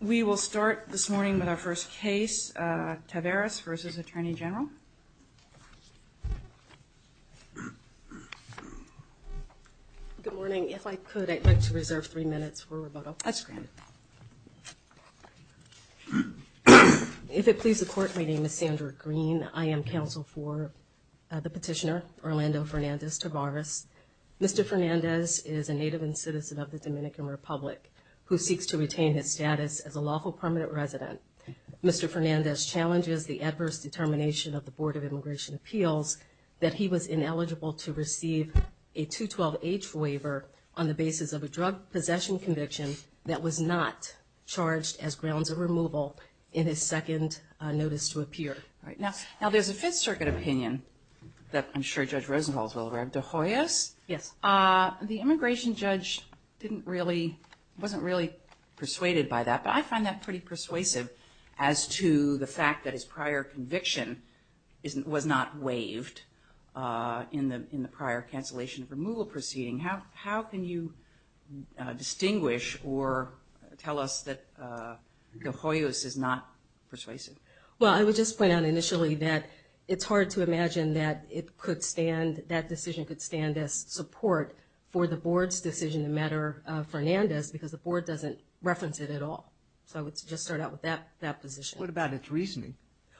We will start this morning with our first case, Taveras v. Attorney General. Good morning. If I could, I'd like to reserve three minutes for roboto. That's granted. If it pleases the Court, my name is Sandra Green. I am counsel for the petitioner, Orlando Fernandez Taveras. Mr. Fernandez is a native and citizen of the Dominican Republic who seeks to retain his status as a lawful permanent resident. Mr. Fernandez challenges the adverse determination of the Board of Immigration Appeals that he was ineligible to receive a 212H waiver on the basis of a drug possession conviction that was not charged as grounds of removal in his second notice to appear. Now, there's a Fifth Circuit opinion that I'm sure Judge Rosenthal is aware of. De Hoyos? Yes. The immigration judge wasn't really persuaded by that, but I find that pretty persuasive as to the fact that his prior conviction was not waived in the prior cancellation of removal proceeding. How can you distinguish or tell us that De Hoyos is not persuasive? Well, I would just point out initially that it's hard to imagine that that decision could stand as support for the Board's decision to matter to Fernandez because the Board doesn't reference it at all. So I would just start out with that position. What about its reasoning?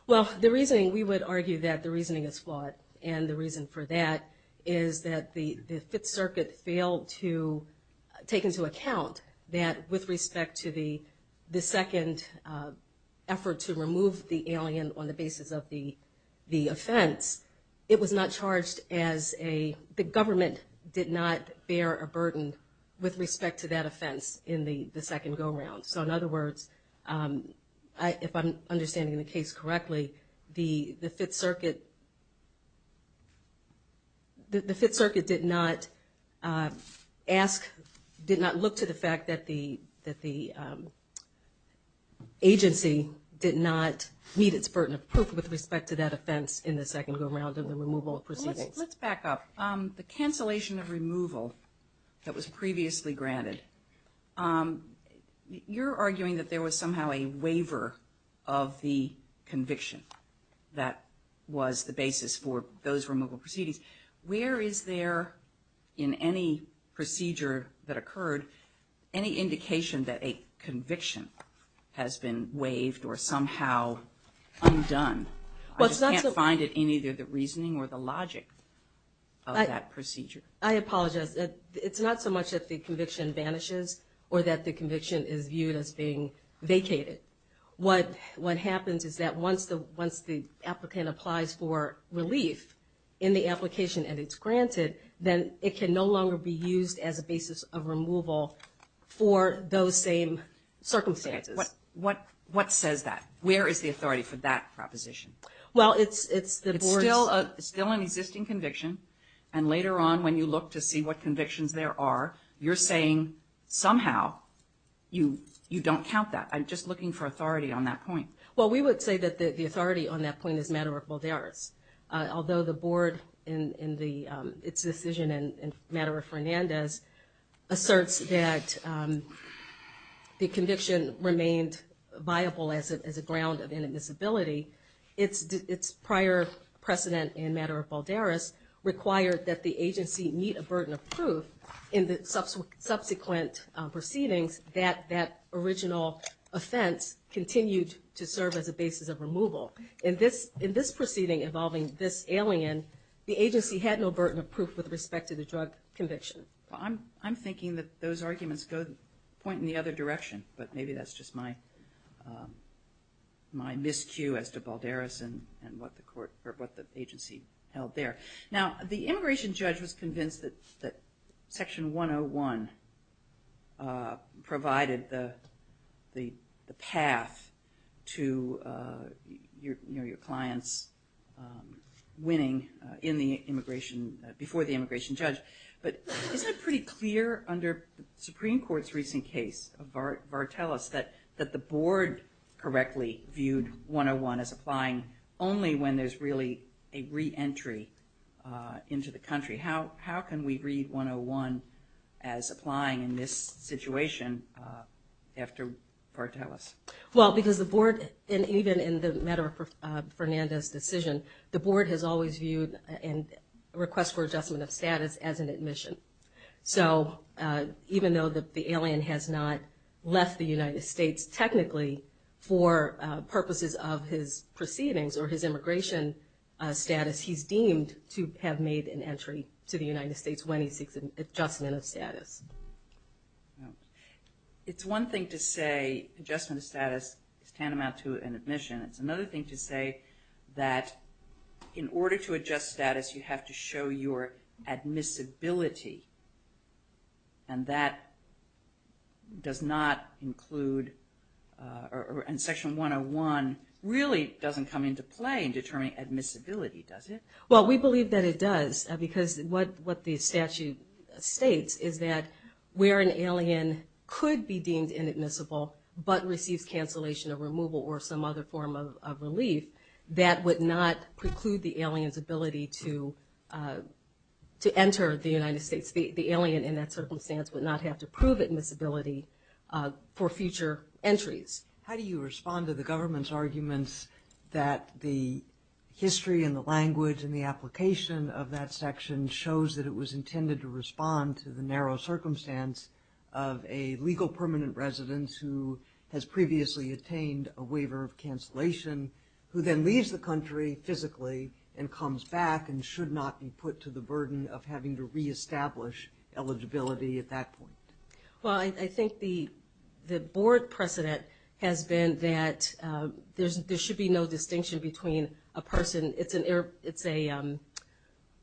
Well, we would argue that the reasoning is flawed, and the reason for that is that the Fifth Circuit failed to take into account that with respect to the second effort to remove the alien on the basis of the offense, it was not charged as a, the government did not bear a burden with respect to that offense in the second go-around. So in other words, if I'm understanding the case correctly, the Fifth Circuit, the Fifth Circuit did not ask, did not look to the fact that the agency did not meet its burden of proof with respect to that offense in the second go-around Let's back up. The cancellation of removal that was previously granted, you're arguing that there was somehow a waiver of the conviction that was the basis for those removal proceedings. Where is there in any procedure that occurred any indication that a conviction has been waived or somehow undone? I just can't find it in either the reasoning or the logic of that procedure. I apologize. It's not so much that the conviction vanishes or that the conviction is viewed as being vacated. What happens is that once the applicant applies for relief in the application and it's granted, then it can no longer be used as a basis of removal for those same circumstances. What says that? Where is the authority for that proposition? It's still an existing conviction, and later on when you look to see what convictions there are, you're saying somehow you don't count that. I'm just looking for authority on that point. Well, we would say that the authority on that point is Madara-Balderas, as a ground of inadmissibility. Its prior precedent in Madara-Balderas required that the agency meet a burden of proof in the subsequent proceedings that that original offense continued to serve as a basis of removal. In this proceeding involving this alien, the agency had no burden of proof with respect to the drug conviction. I'm thinking that those arguments point in the other direction, but maybe that's just my miscue as to Balderas and what the agency held there. Now, the immigration judge was convinced that Section 101 provided the path to your client's winning before the immigration judge. But isn't it pretty clear under the Supreme Court's recent case of Vartelis that the board correctly viewed 101 as applying only when there's really a re-entry into the country? How can we read 101 as applying in this situation after Vartelis? Well, because the board, and even in the matter of Fernandez's decision, the board has always viewed a request for adjustment of status as an admission. So even though the alien has not left the United States technically for purposes of his proceedings or his immigration status, he's deemed to have made an entry to the United States when he seeks an adjustment of status. It's one thing to say adjustment of status is tantamount to an admission. It's another thing to say that in order to adjust status, you have to show your admissibility. And that does not include, and Section 101 really doesn't come into play in determining admissibility, does it? Well, we believe that it does because what the statute states is that where an alien could be deemed inadmissible but receives cancellation or removal or some other form of relief, that would not preclude the alien's ability to enter the United States. The alien in that circumstance would not have to prove admissibility for future entries. How do you respond to the government's arguments that the history and the language and the application of that section shows that it was intended to respond to the narrow circumstance of a legal permanent resident who has previously attained a waiver of cancellation who then leaves the country physically and comes back and should not be put to the burden of having to reestablish eligibility at that point? Well, I think the board precedent has been that there should be no distinction between a person. It's an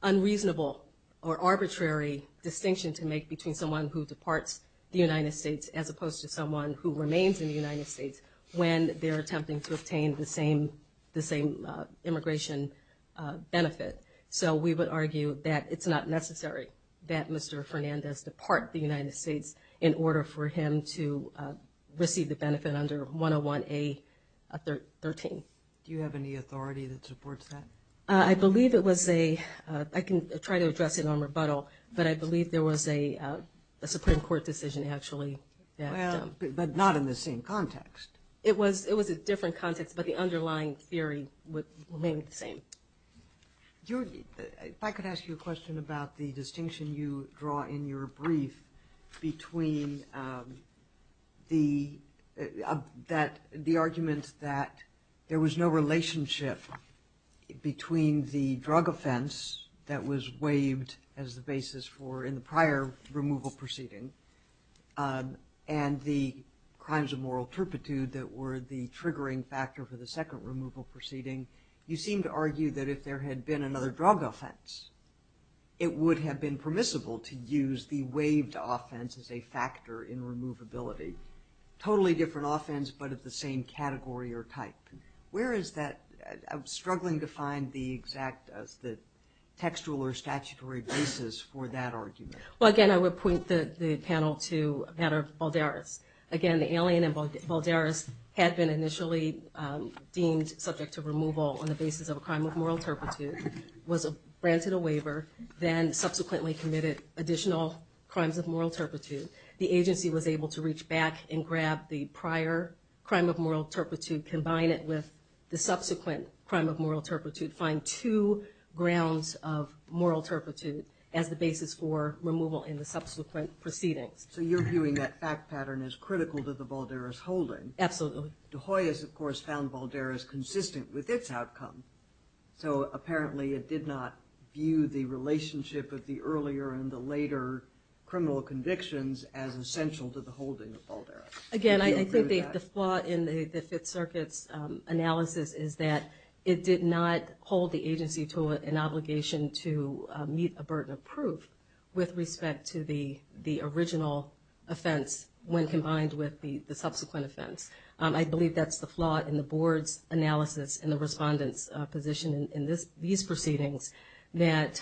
unreasonable or arbitrary distinction to make between someone who departs the United States as opposed to someone who remains in the United States when they're attempting to obtain the same immigration benefit. So we would argue that it's not necessary that Mr. Fernandez depart the United States in order for him to receive the benefit under 101A.13. Do you have any authority that supports that? I believe it was a – I can try to address it on rebuttal, but I believe there was a Supreme Court decision actually that – Well, but not in the same context. It was a different context, but the underlying theory remained the same. If I could ask you a question about the distinction you draw in your brief between the argument that there was no relationship between the drug offense that was waived as the basis for – and the crimes of moral turpitude that were the triggering factor for the second removal proceeding, you seem to argue that if there had been another drug offense, it would have been permissible to use the waived offense as a factor in removability. Totally different offense, but of the same category or type. Where is that – I'm struggling to find the exact – the textual or statutory basis for that argument. Well, again, I would point the panel to the matter of Balderas. Again, the alien in Balderas had been initially deemed subject to removal on the basis of a crime of moral turpitude, was granted a waiver, then subsequently committed additional crimes of moral turpitude. The agency was able to reach back and grab the prior crime of moral turpitude, combine it with the subsequent crime of moral turpitude, find two grounds of moral turpitude as the basis for removal in the subsequent proceedings. So you're viewing that fact pattern as critical to the Balderas holding. Absolutely. De Hoy has, of course, found Balderas consistent with its outcome. So apparently it did not view the relationship of the earlier and the later criminal convictions as essential to the holding of Balderas. Again, I think the flaw in the Fifth Circuit's analysis is that it did not hold the agency to an obligation to meet a burden of proof with respect to the original offense when combined with the subsequent offense. I believe that's the flaw in the Board's analysis and the Respondent's position in these proceedings that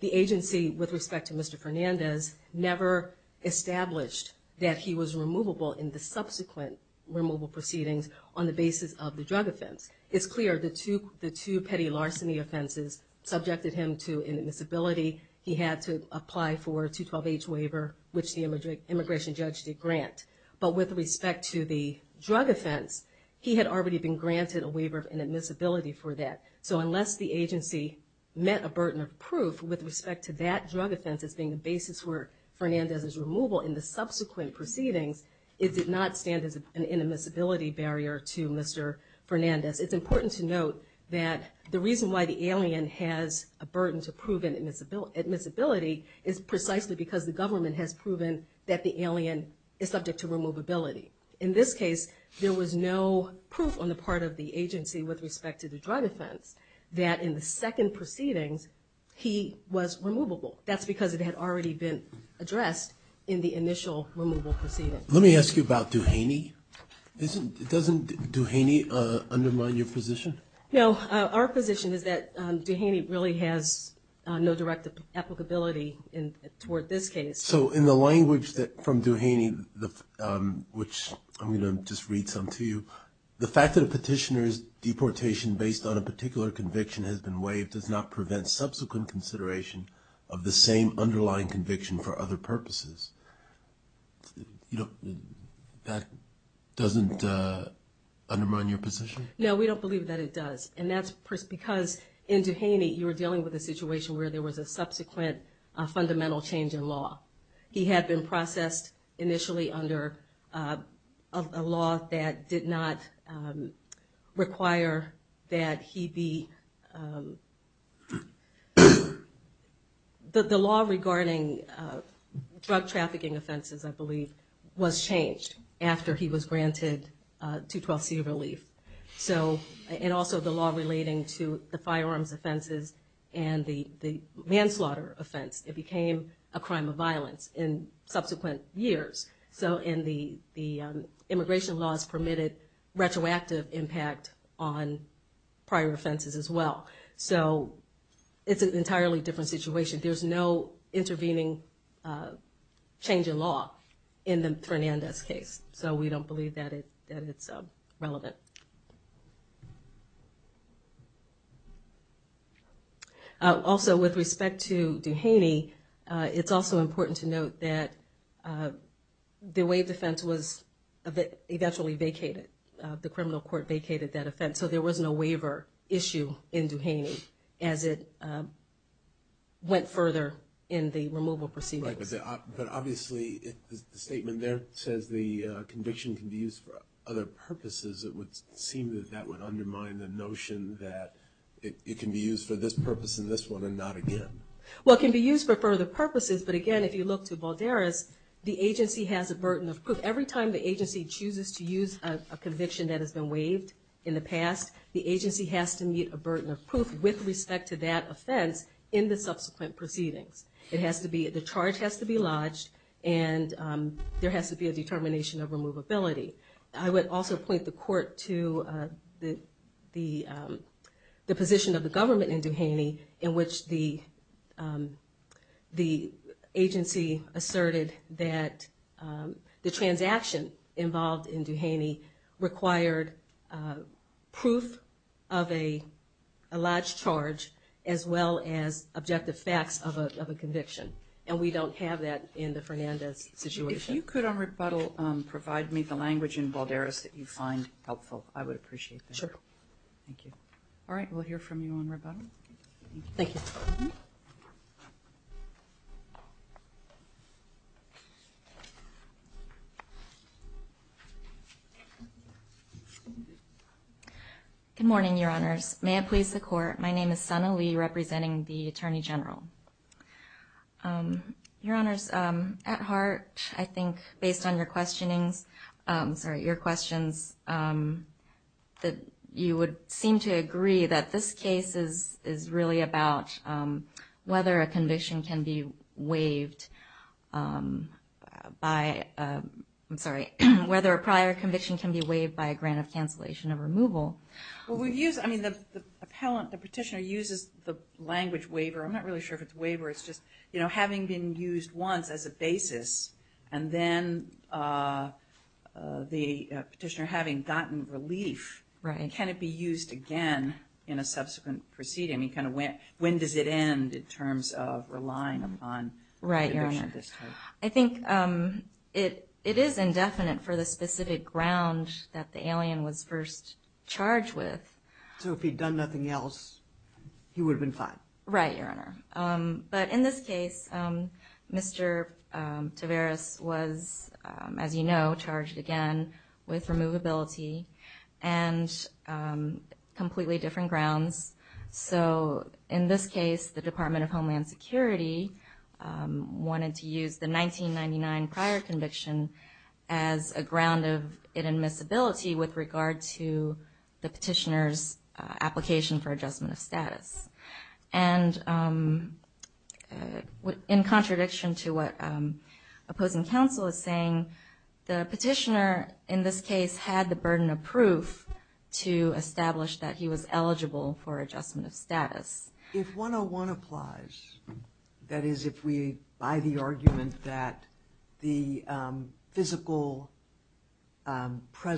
the agency, with respect to Mr. Fernandez, never established that he was removable in the subsequent removal proceedings on the basis of the drug offense. It's clear the two petty larceny offenses subjected him to inadmissibility. He had to apply for a 212H waiver, which the immigration judge did grant. But with respect to the drug offense, he had already been granted a waiver of inadmissibility for that. So unless the agency met a burden of proof with respect to that drug offense as being the basis for Fernandez's removal in the subsequent proceedings, it did not stand as an inadmissibility barrier to Mr. Fernandez. It's important to note that the reason why the alien has a burden to prove inadmissibility is precisely because the government has proven that the alien is subject to removability. In this case, there was no proof on the part of the agency with respect to the drug offense that in the second proceedings he was removable. That's because it had already been addressed in the initial removal proceedings. Let me ask you about Duhaney. Doesn't Duhaney undermine your position? No. Our position is that Duhaney really has no direct applicability toward this case. So in the language from Duhaney, which I'm going to just read some to you, the fact that a petitioner's deportation based on a particular conviction has been waived does not prevent subsequent consideration of the same underlying conviction for other purposes. That doesn't undermine your position? No, we don't believe that it does, and that's because in Duhaney you were dealing with a situation He had been processed initially under a law that did not require that he be... The law regarding drug trafficking offenses, I believe, was changed after he was granted 212C relief. And also the law relating to the firearms offenses and the manslaughter offense. It became a crime of violence in subsequent years. So the immigration laws permitted retroactive impact on prior offenses as well. So it's an entirely different situation. There's no intervening change in law in Fernandez's case. So we don't believe that it's relevant. Also, with respect to Duhaney, it's also important to note that the waived offense was eventually vacated. The criminal court vacated that offense, so there was no waiver issue in Duhaney as it went further in the removal proceedings. But obviously the statement there says the conviction can be used for other purposes. It would seem that that would undermine the notion that it can be used for this purpose and this one and not again. Well, it can be used for further purposes, but again, if you look to Balderas, the agency has a burden of proof. Every time the agency chooses to use a conviction that has been waived in the past, the agency has to meet a burden of proof with respect to that offense in the subsequent proceedings. The charge has to be lodged, and there has to be a determination of removability. I would also point the court to the position of the government in Duhaney in which the agency asserted that the transaction involved in Duhaney required proof of a lodged charge as well as objective facts of a conviction, and we don't have that in the Fernandez situation. If you could on rebuttal provide me the language in Balderas that you find helpful, I would appreciate that. Sure. Thank you. All right, we'll hear from you on rebuttal. Thank you. Good morning, Your Honors. May it please the Court, my name is Sana Lee representing the Attorney General. Your Honors, at heart, I think, based on your questionings, sorry, your questions, that you would seem to agree that this case is really about whether a conviction can be waived by, I'm sorry, whether a prior conviction can be waived by a grant of cancellation of removal. Well, we've used, I mean, the petitioner uses the language waiver. I'm not really sure if it's waiver. It's just, you know, having been used once as a basis and then the petitioner having gotten relief, can it be used again in a subsequent proceeding? I mean, kind of when does it end in terms of relying upon a conviction at this time? Right, Your Honor. I think it is indefinite for the specific ground that the alien was first charged with. So if he'd done nothing else, he would have been fined? Right, Your Honor. But in this case, Mr. Tavares was, as you know, charged again with removability and completely different grounds. So in this case, the Department of Homeland Security wanted to use the 1999 prior conviction as a ground of admissibility with regard to the petitioner's application for adjustment of status. And in contradiction to what opposing counsel is saying, the petitioner in this case had the burden of proof to establish that he was eligible for adjustment of status. If 101 applies, that is if we buy the argument that the physical act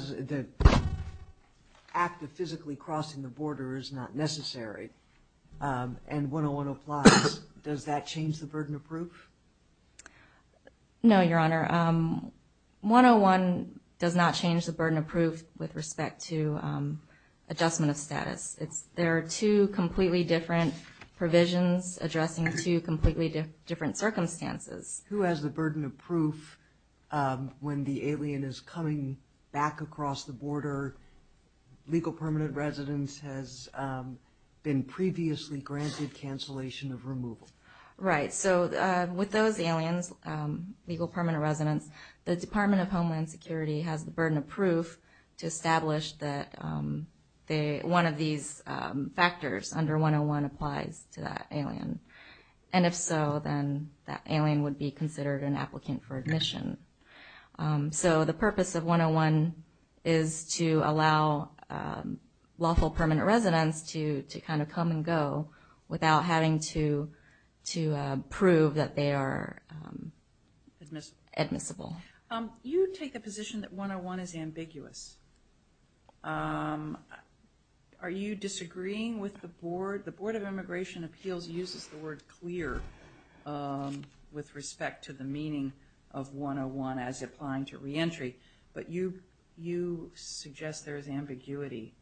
of physically crossing the border is not necessary, and 101 applies, does that change the burden of proof? No, Your Honor. 101 does not change the burden of proof with respect to adjustment of status. There are two completely different provisions addressing two completely different circumstances. Who has the burden of proof when the alien is coming back across the border? Legal permanent residence has been previously granted cancellation of removal. Right, so with those aliens, legal permanent residence, the Department of Homeland Security has the burden of proof to establish that one of these factors under 101 applies to that alien. And if so, then that alien would be considered an applicant for admission. So the purpose of 101 is to allow lawful permanent residence to kind of come and go without having to prove that they are admissible. You take the position that 101 is ambiguous. Are you disagreeing with the board? The Board of Immigration Appeals uses the word clear with respect to the meaning of 101 as applying to reentry, but you suggest there is ambiguity.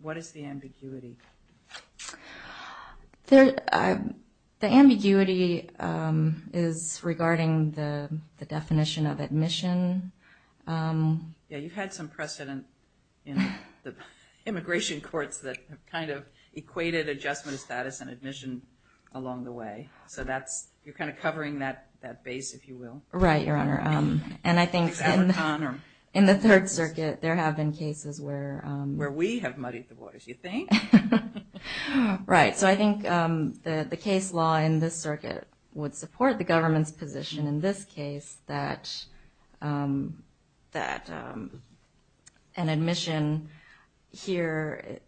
What is the ambiguity? The ambiguity is regarding the definition of admission. Yeah, you've had some precedent in the immigration courts that kind of equated adjustment of status and admission along the way. So you're kind of covering that base, if you will. Right, Your Honor, and I think in the Third Circuit there have been cases where... Where we have muddied the waters, you think? Right, so I think the case law in this circuit would support the government's position in this case that an admission here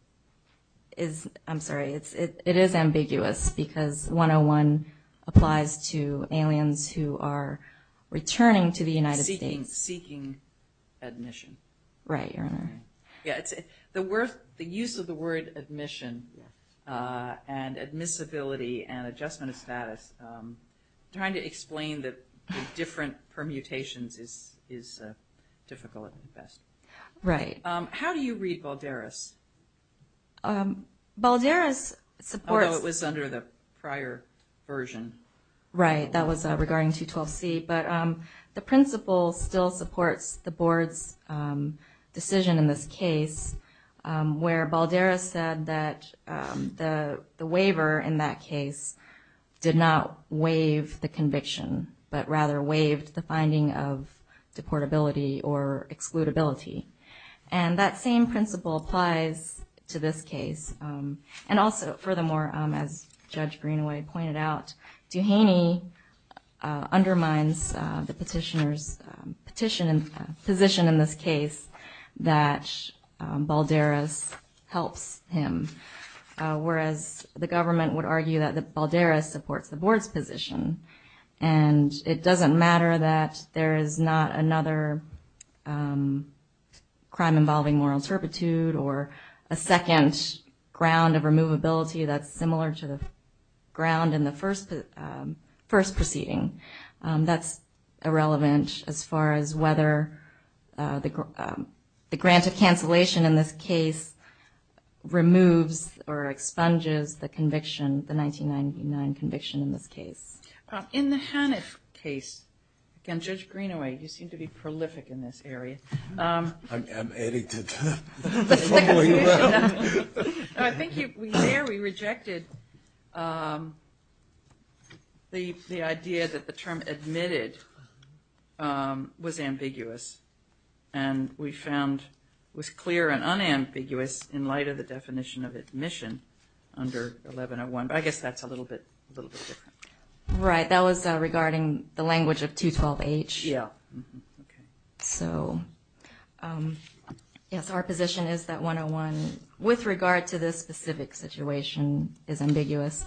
is... I'm sorry, it is ambiguous because 101 applies to aliens who are returning to the United States. Seeking admission. Right, Your Honor. The use of the word admission and admissibility and adjustment of status, trying to explain the different permutations is difficult at best. Right. How do you read Balderas? Balderas supports... Although it was under the prior version. Right, that was regarding 212C. But the principle still supports the board's decision in this case where Balderas said that the waiver in that case did not waive the conviction, but rather waived the finding of deportability or excludability. And that same principle applies to this case. And also, furthermore, as Judge Greenway pointed out, Duhaney undermines the petitioner's position in this case that Balderas helps him, whereas the government would argue that Balderas supports the board's position. And it doesn't matter that there is not another crime involving moral turpitude or a second ground of removability that's similar to the ground in the first proceeding. That's irrelevant as far as whether the grant of cancellation in this case removes or expunges the conviction, the 1999 conviction in this case. In the Hanif case, again, Judge Greenway, you seem to be prolific in this area. I'm edited. I think there we rejected the idea that the term admitted was ambiguous. And we found it was clear and unambiguous in light of the definition of admission under 1101. But I guess that's a little bit different. Right, that was regarding the language of 212H. Yeah. So, yes, our position is that 101, with regard to this specific situation, is ambiguous,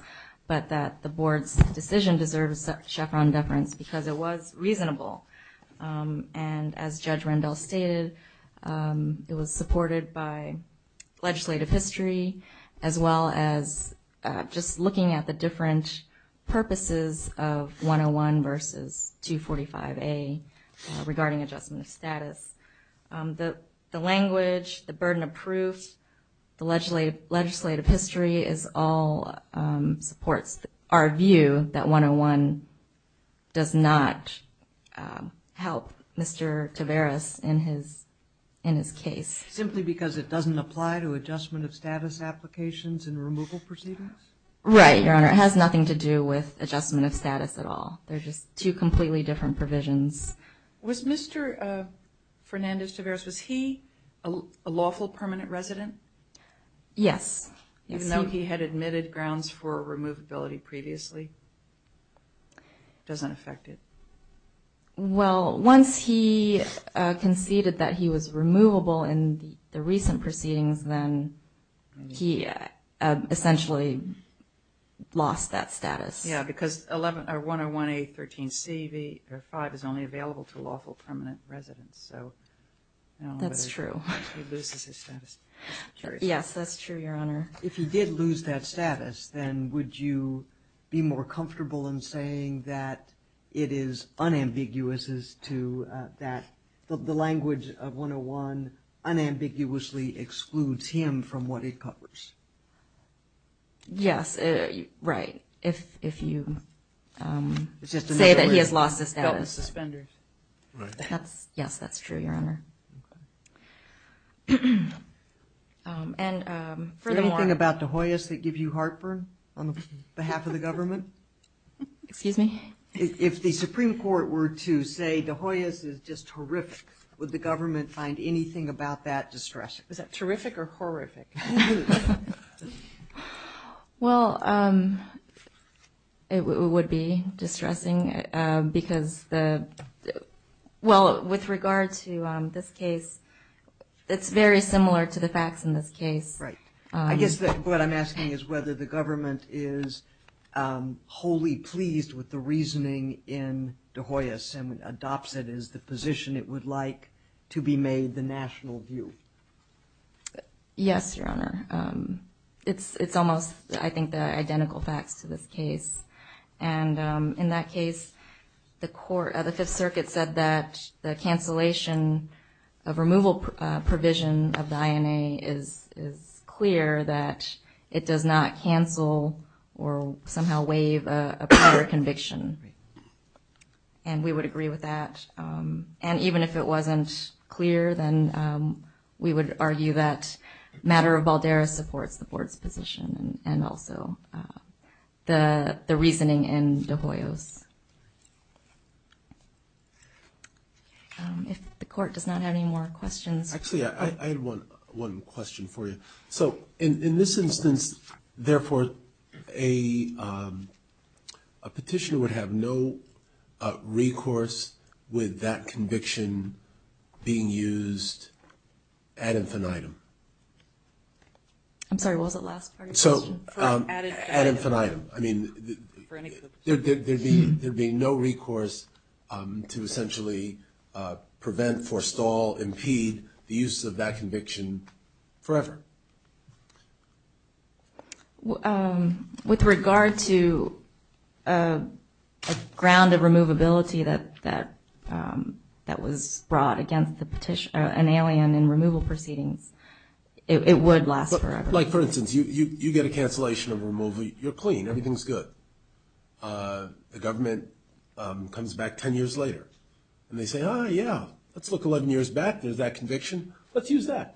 but that the board's decision deserves a chevron deference because it was reasonable. And as Judge Rendell stated, it was supported by legislative history, as well as just looking at the different purposes of 101 versus 245A regarding adjustment of status. The language, the burden of proof, the legislative history, all supports our view that 101 does not help Mr. Tavares in his case. Simply because it doesn't apply to adjustment of status applications and removal proceedings? Right, Your Honor. It has nothing to do with adjustment of status at all. They're just two completely different provisions. Was Mr. Fernandez-Tavares, was he a lawful permanent resident? Yes. Even though he had admitted grounds for removability previously? It doesn't affect it. Well, once he conceded that he was removable in the recent proceedings, then he essentially lost that status. Yeah, because 101A13C5 is only available to lawful permanent residents. So I don't know if he loses his status. That's true. Yes, that's true, Your Honor. If he did lose that status, then would you be more comfortable in saying that it is unambiguous as to that the language of 101 unambiguously excludes him from what it covers? Yes, right. If you say that he has lost his status. Yes, that's true, Your Honor. And furthermore. Is there anything about De Hoyos that gives you heartburn on behalf of the government? Excuse me? If the Supreme Court were to say De Hoyos is just horrific, would the government find anything about that distressing? Is that terrific or horrific? Well, it would be distressing because the – well, with regard to this case, it's very similar to the facts in this case. Right. I guess what I'm asking is whether the government is wholly pleased with the reasoning in De Hoyos and adopts it as the position it would like to be made the national view. Yes, Your Honor. It's almost, I think, the identical facts to this case. And in that case, the Fifth Circuit said that the cancellation of removal provision of the INA is clear that it does not cancel or somehow waive a prior conviction. And we would agree with that. And even if it wasn't clear, then we would argue that matter of baldera supports the Court's position and also the reasoning in De Hoyos. If the Court does not have any more questions. Actually, I had one question for you. So in this instance, therefore, a petitioner would have no recourse with that conviction being used ad infinitum. I'm sorry, what was the last part of your question? So, ad infinitum. I mean, there'd be no recourse to essentially prevent, forestall, impede the use of that conviction forever. With regard to a ground of removability that was brought against the petitioner, an alien in removal proceedings, it would last forever. Like, for instance, you get a cancellation of removal, you're clean, everything's good. The government comes back ten years later. And they say, oh, yeah, let's look 11 years back, there's that conviction, let's use that.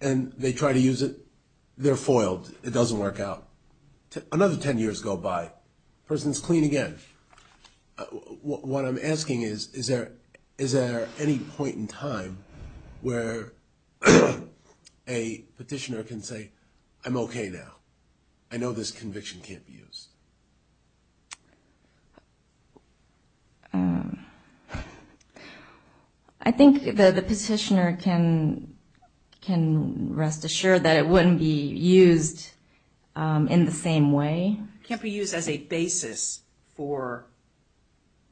And they try to use it, they're foiled, it doesn't work out. Another ten years go by, person's clean again. What I'm asking is, is there any point in time where a petitioner can say, I'm okay now, I know this conviction can't be used. I think the petitioner can rest assured that it wouldn't be used in the same way. It can't be used as a basis for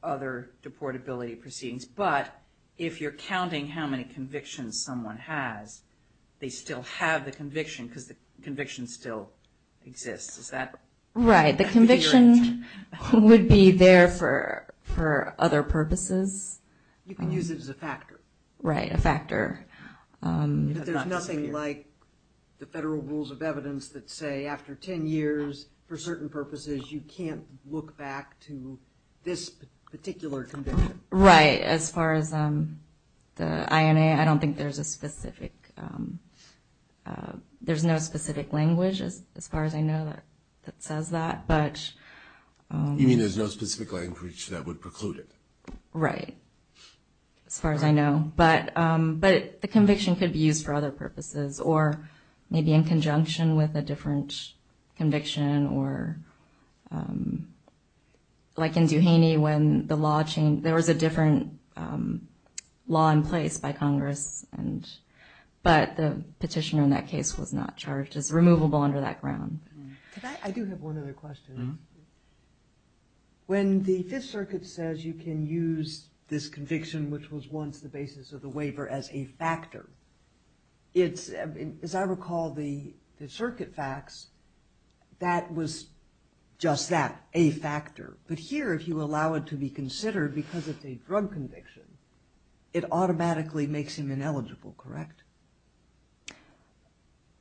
other deportability proceedings. But if you're counting how many convictions someone has, they still have the conviction because the conviction still exists. Right, the conviction would be there for other purposes. You can use it as a factor. Right, a factor. But there's nothing like the federal rules of evidence that say after ten years, for certain purposes you can't look back to this particular conviction. Right, as far as the INA, I don't think there's a specific, there's no specific language as far as I know that says that. You mean there's no specific language that would preclude it? Right, as far as I know. But the conviction could be used for other purposes, or maybe in conjunction with a different conviction, or like in Duhaney when the law changed, there was a different law in place by Congress, but the petitioner in that case was not charged. It's removable under that ground. I do have one other question. When the Fifth Circuit says you can use this conviction, which was once the basis of the waiver, as a factor, as I recall the circuit facts, that was just that, a factor. But here, if you allow it to be considered because it's a drug conviction, it automatically makes him ineligible, correct?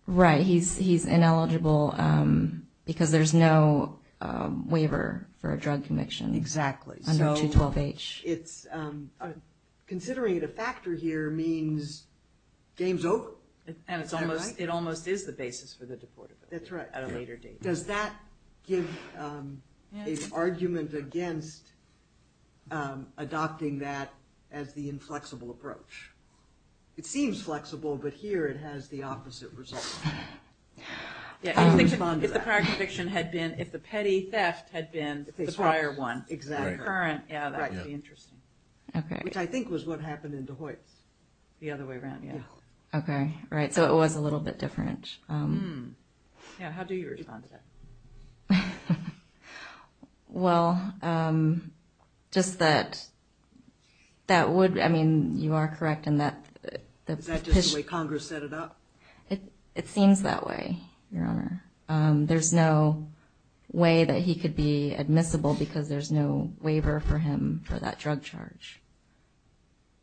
Right, he's ineligible because there's no waiver for a drug conviction. Exactly. Under 212H. Considering it a factor here means game's over. And it almost is the basis for the deportability. That's right. Does that give an argument against adopting that as the inflexible approach? It seems flexible, but here it has the opposite result. If the petty theft had been the prior one, the current, that would be interesting. Which I think was what happened in Duhoit. The other way around, yeah. Okay, right, so it was a little bit different. Yeah, how do you respond to that? Well, just that that would, I mean, you are correct in that. Is that just the way Congress set it up? It seems that way, Your Honor. There's no way that he could be admissible because there's no waiver for him for that drug charge.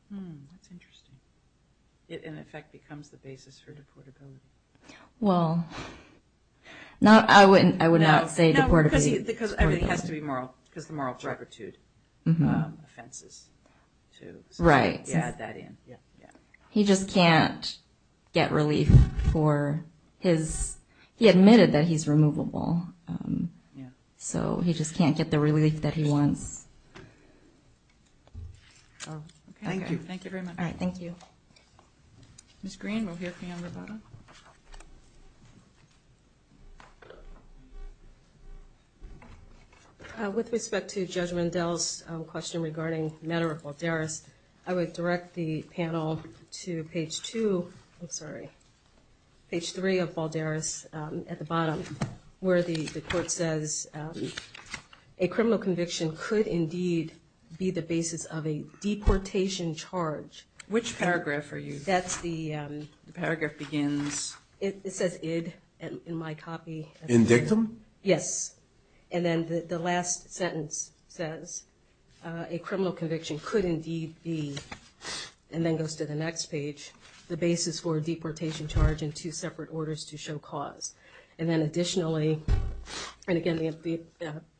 That's interesting. It, in effect, becomes the basis for deportability. Well, I would not say deportability. No, because everything has to be moral. Because the moral drug or two offenses, too. Right. You add that in. He just can't get relief for his, he admitted that he's removable. So he just can't get the relief that he wants. Okay. Thank you. Thank you very much. All right, thank you. Ms. Green, we'll hear from you on the bottom. With respect to Judge Mandel's question regarding matter of Balderas, I would direct the panel to page two, I'm sorry, page three of Balderas at the bottom where the court says, a criminal conviction could indeed be the basis of a deportation charge. Which paragraph are you? The paragraph begins. It says id in my copy. Indict him? Yes. And then the last sentence says, a criminal conviction could indeed be, and then goes to the next page, the basis for a deportation charge and two separate orders to show cause. And then additionally, and again, the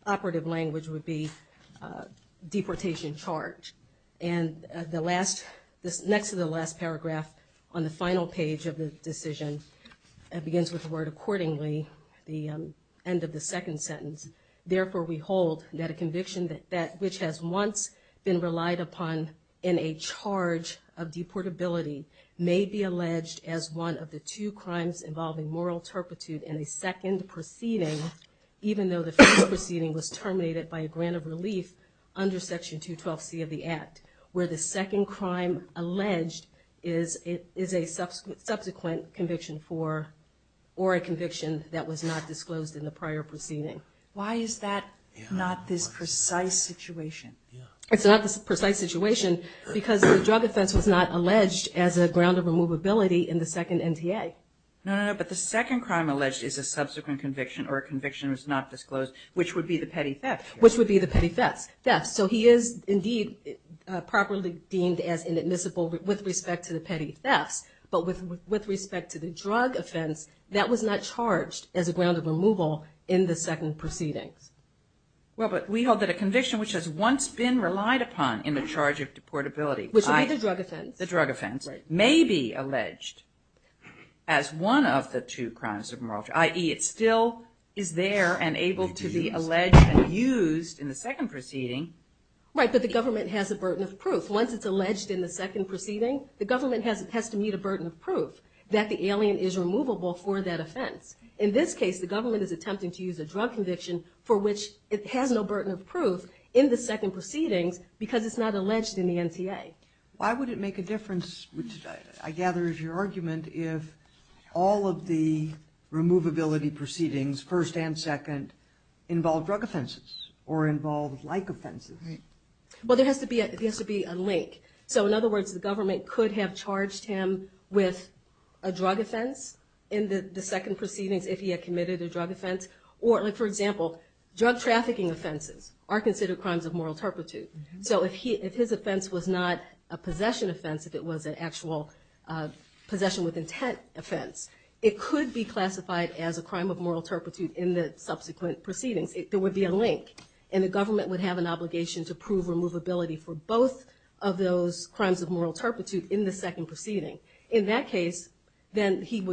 operative language would be deportation charge. And the last, next to the last paragraph on the final page of the decision, it begins with the word accordingly, the end of the second sentence. Therefore, we hold that a conviction which has once been relied upon in a charge of deportability may be alleged as one of the two crimes involving moral turpitude in the second proceeding, even though the first proceeding was terminated by a grant of relief under section 212C of the act, where the second crime alleged is a subsequent conviction for, or a conviction that was not disclosed in the prior proceeding. Why is that not this precise situation? It's not this precise situation because the drug offense was not alleged as a ground of removability in the second NTA. No, no, no. But the second crime alleged is a subsequent conviction or a conviction was not disclosed, which would be the petty theft. Which would be the petty theft. So he is indeed properly deemed as inadmissible with respect to the petty thefts, but with respect to the drug offense, that was not charged as a ground of removal in the second proceedings. Well, but we hold that a conviction which has once been relied upon in the charge of deportability. Which would be the drug offense. The drug offense may be alleged as one of the two crimes of moral, i.e. it still is there and able to be alleged and used in the second proceeding. Right, but the government has a burden of proof. Once it's alleged in the second proceeding, the government has to meet a burden of proof that the alien is removable for that offense. In this case, the government is attempting to use a drug conviction for which it has no burden of proof in the second proceedings because it's not alleged in the NTA. Why would it make a difference, which I gather is your argument, if all of the removability proceedings, first and second, involve drug offenses or involve like offenses? Right. Well, there has to be a link. So in other words, the government could have charged him with a drug offense in the second proceedings if he had committed a drug offense. Or for example, drug trafficking offenses are considered crimes of moral turpitude. So if his offense was not a possession offense, if it was an actual possession with intent offense, it could be classified as a crime of moral turpitude in the subsequent proceedings. There would be a link and the government would have an obligation to prove removability for both of those crimes of moral turpitude in the second proceeding. In that case, then he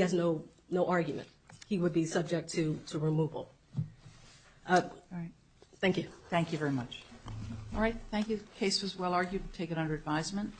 has no argument. He would be subject to removal. All right. Thank you. Thank you very much. All right. Thank you. Case was well argued. We'll take it under advisement.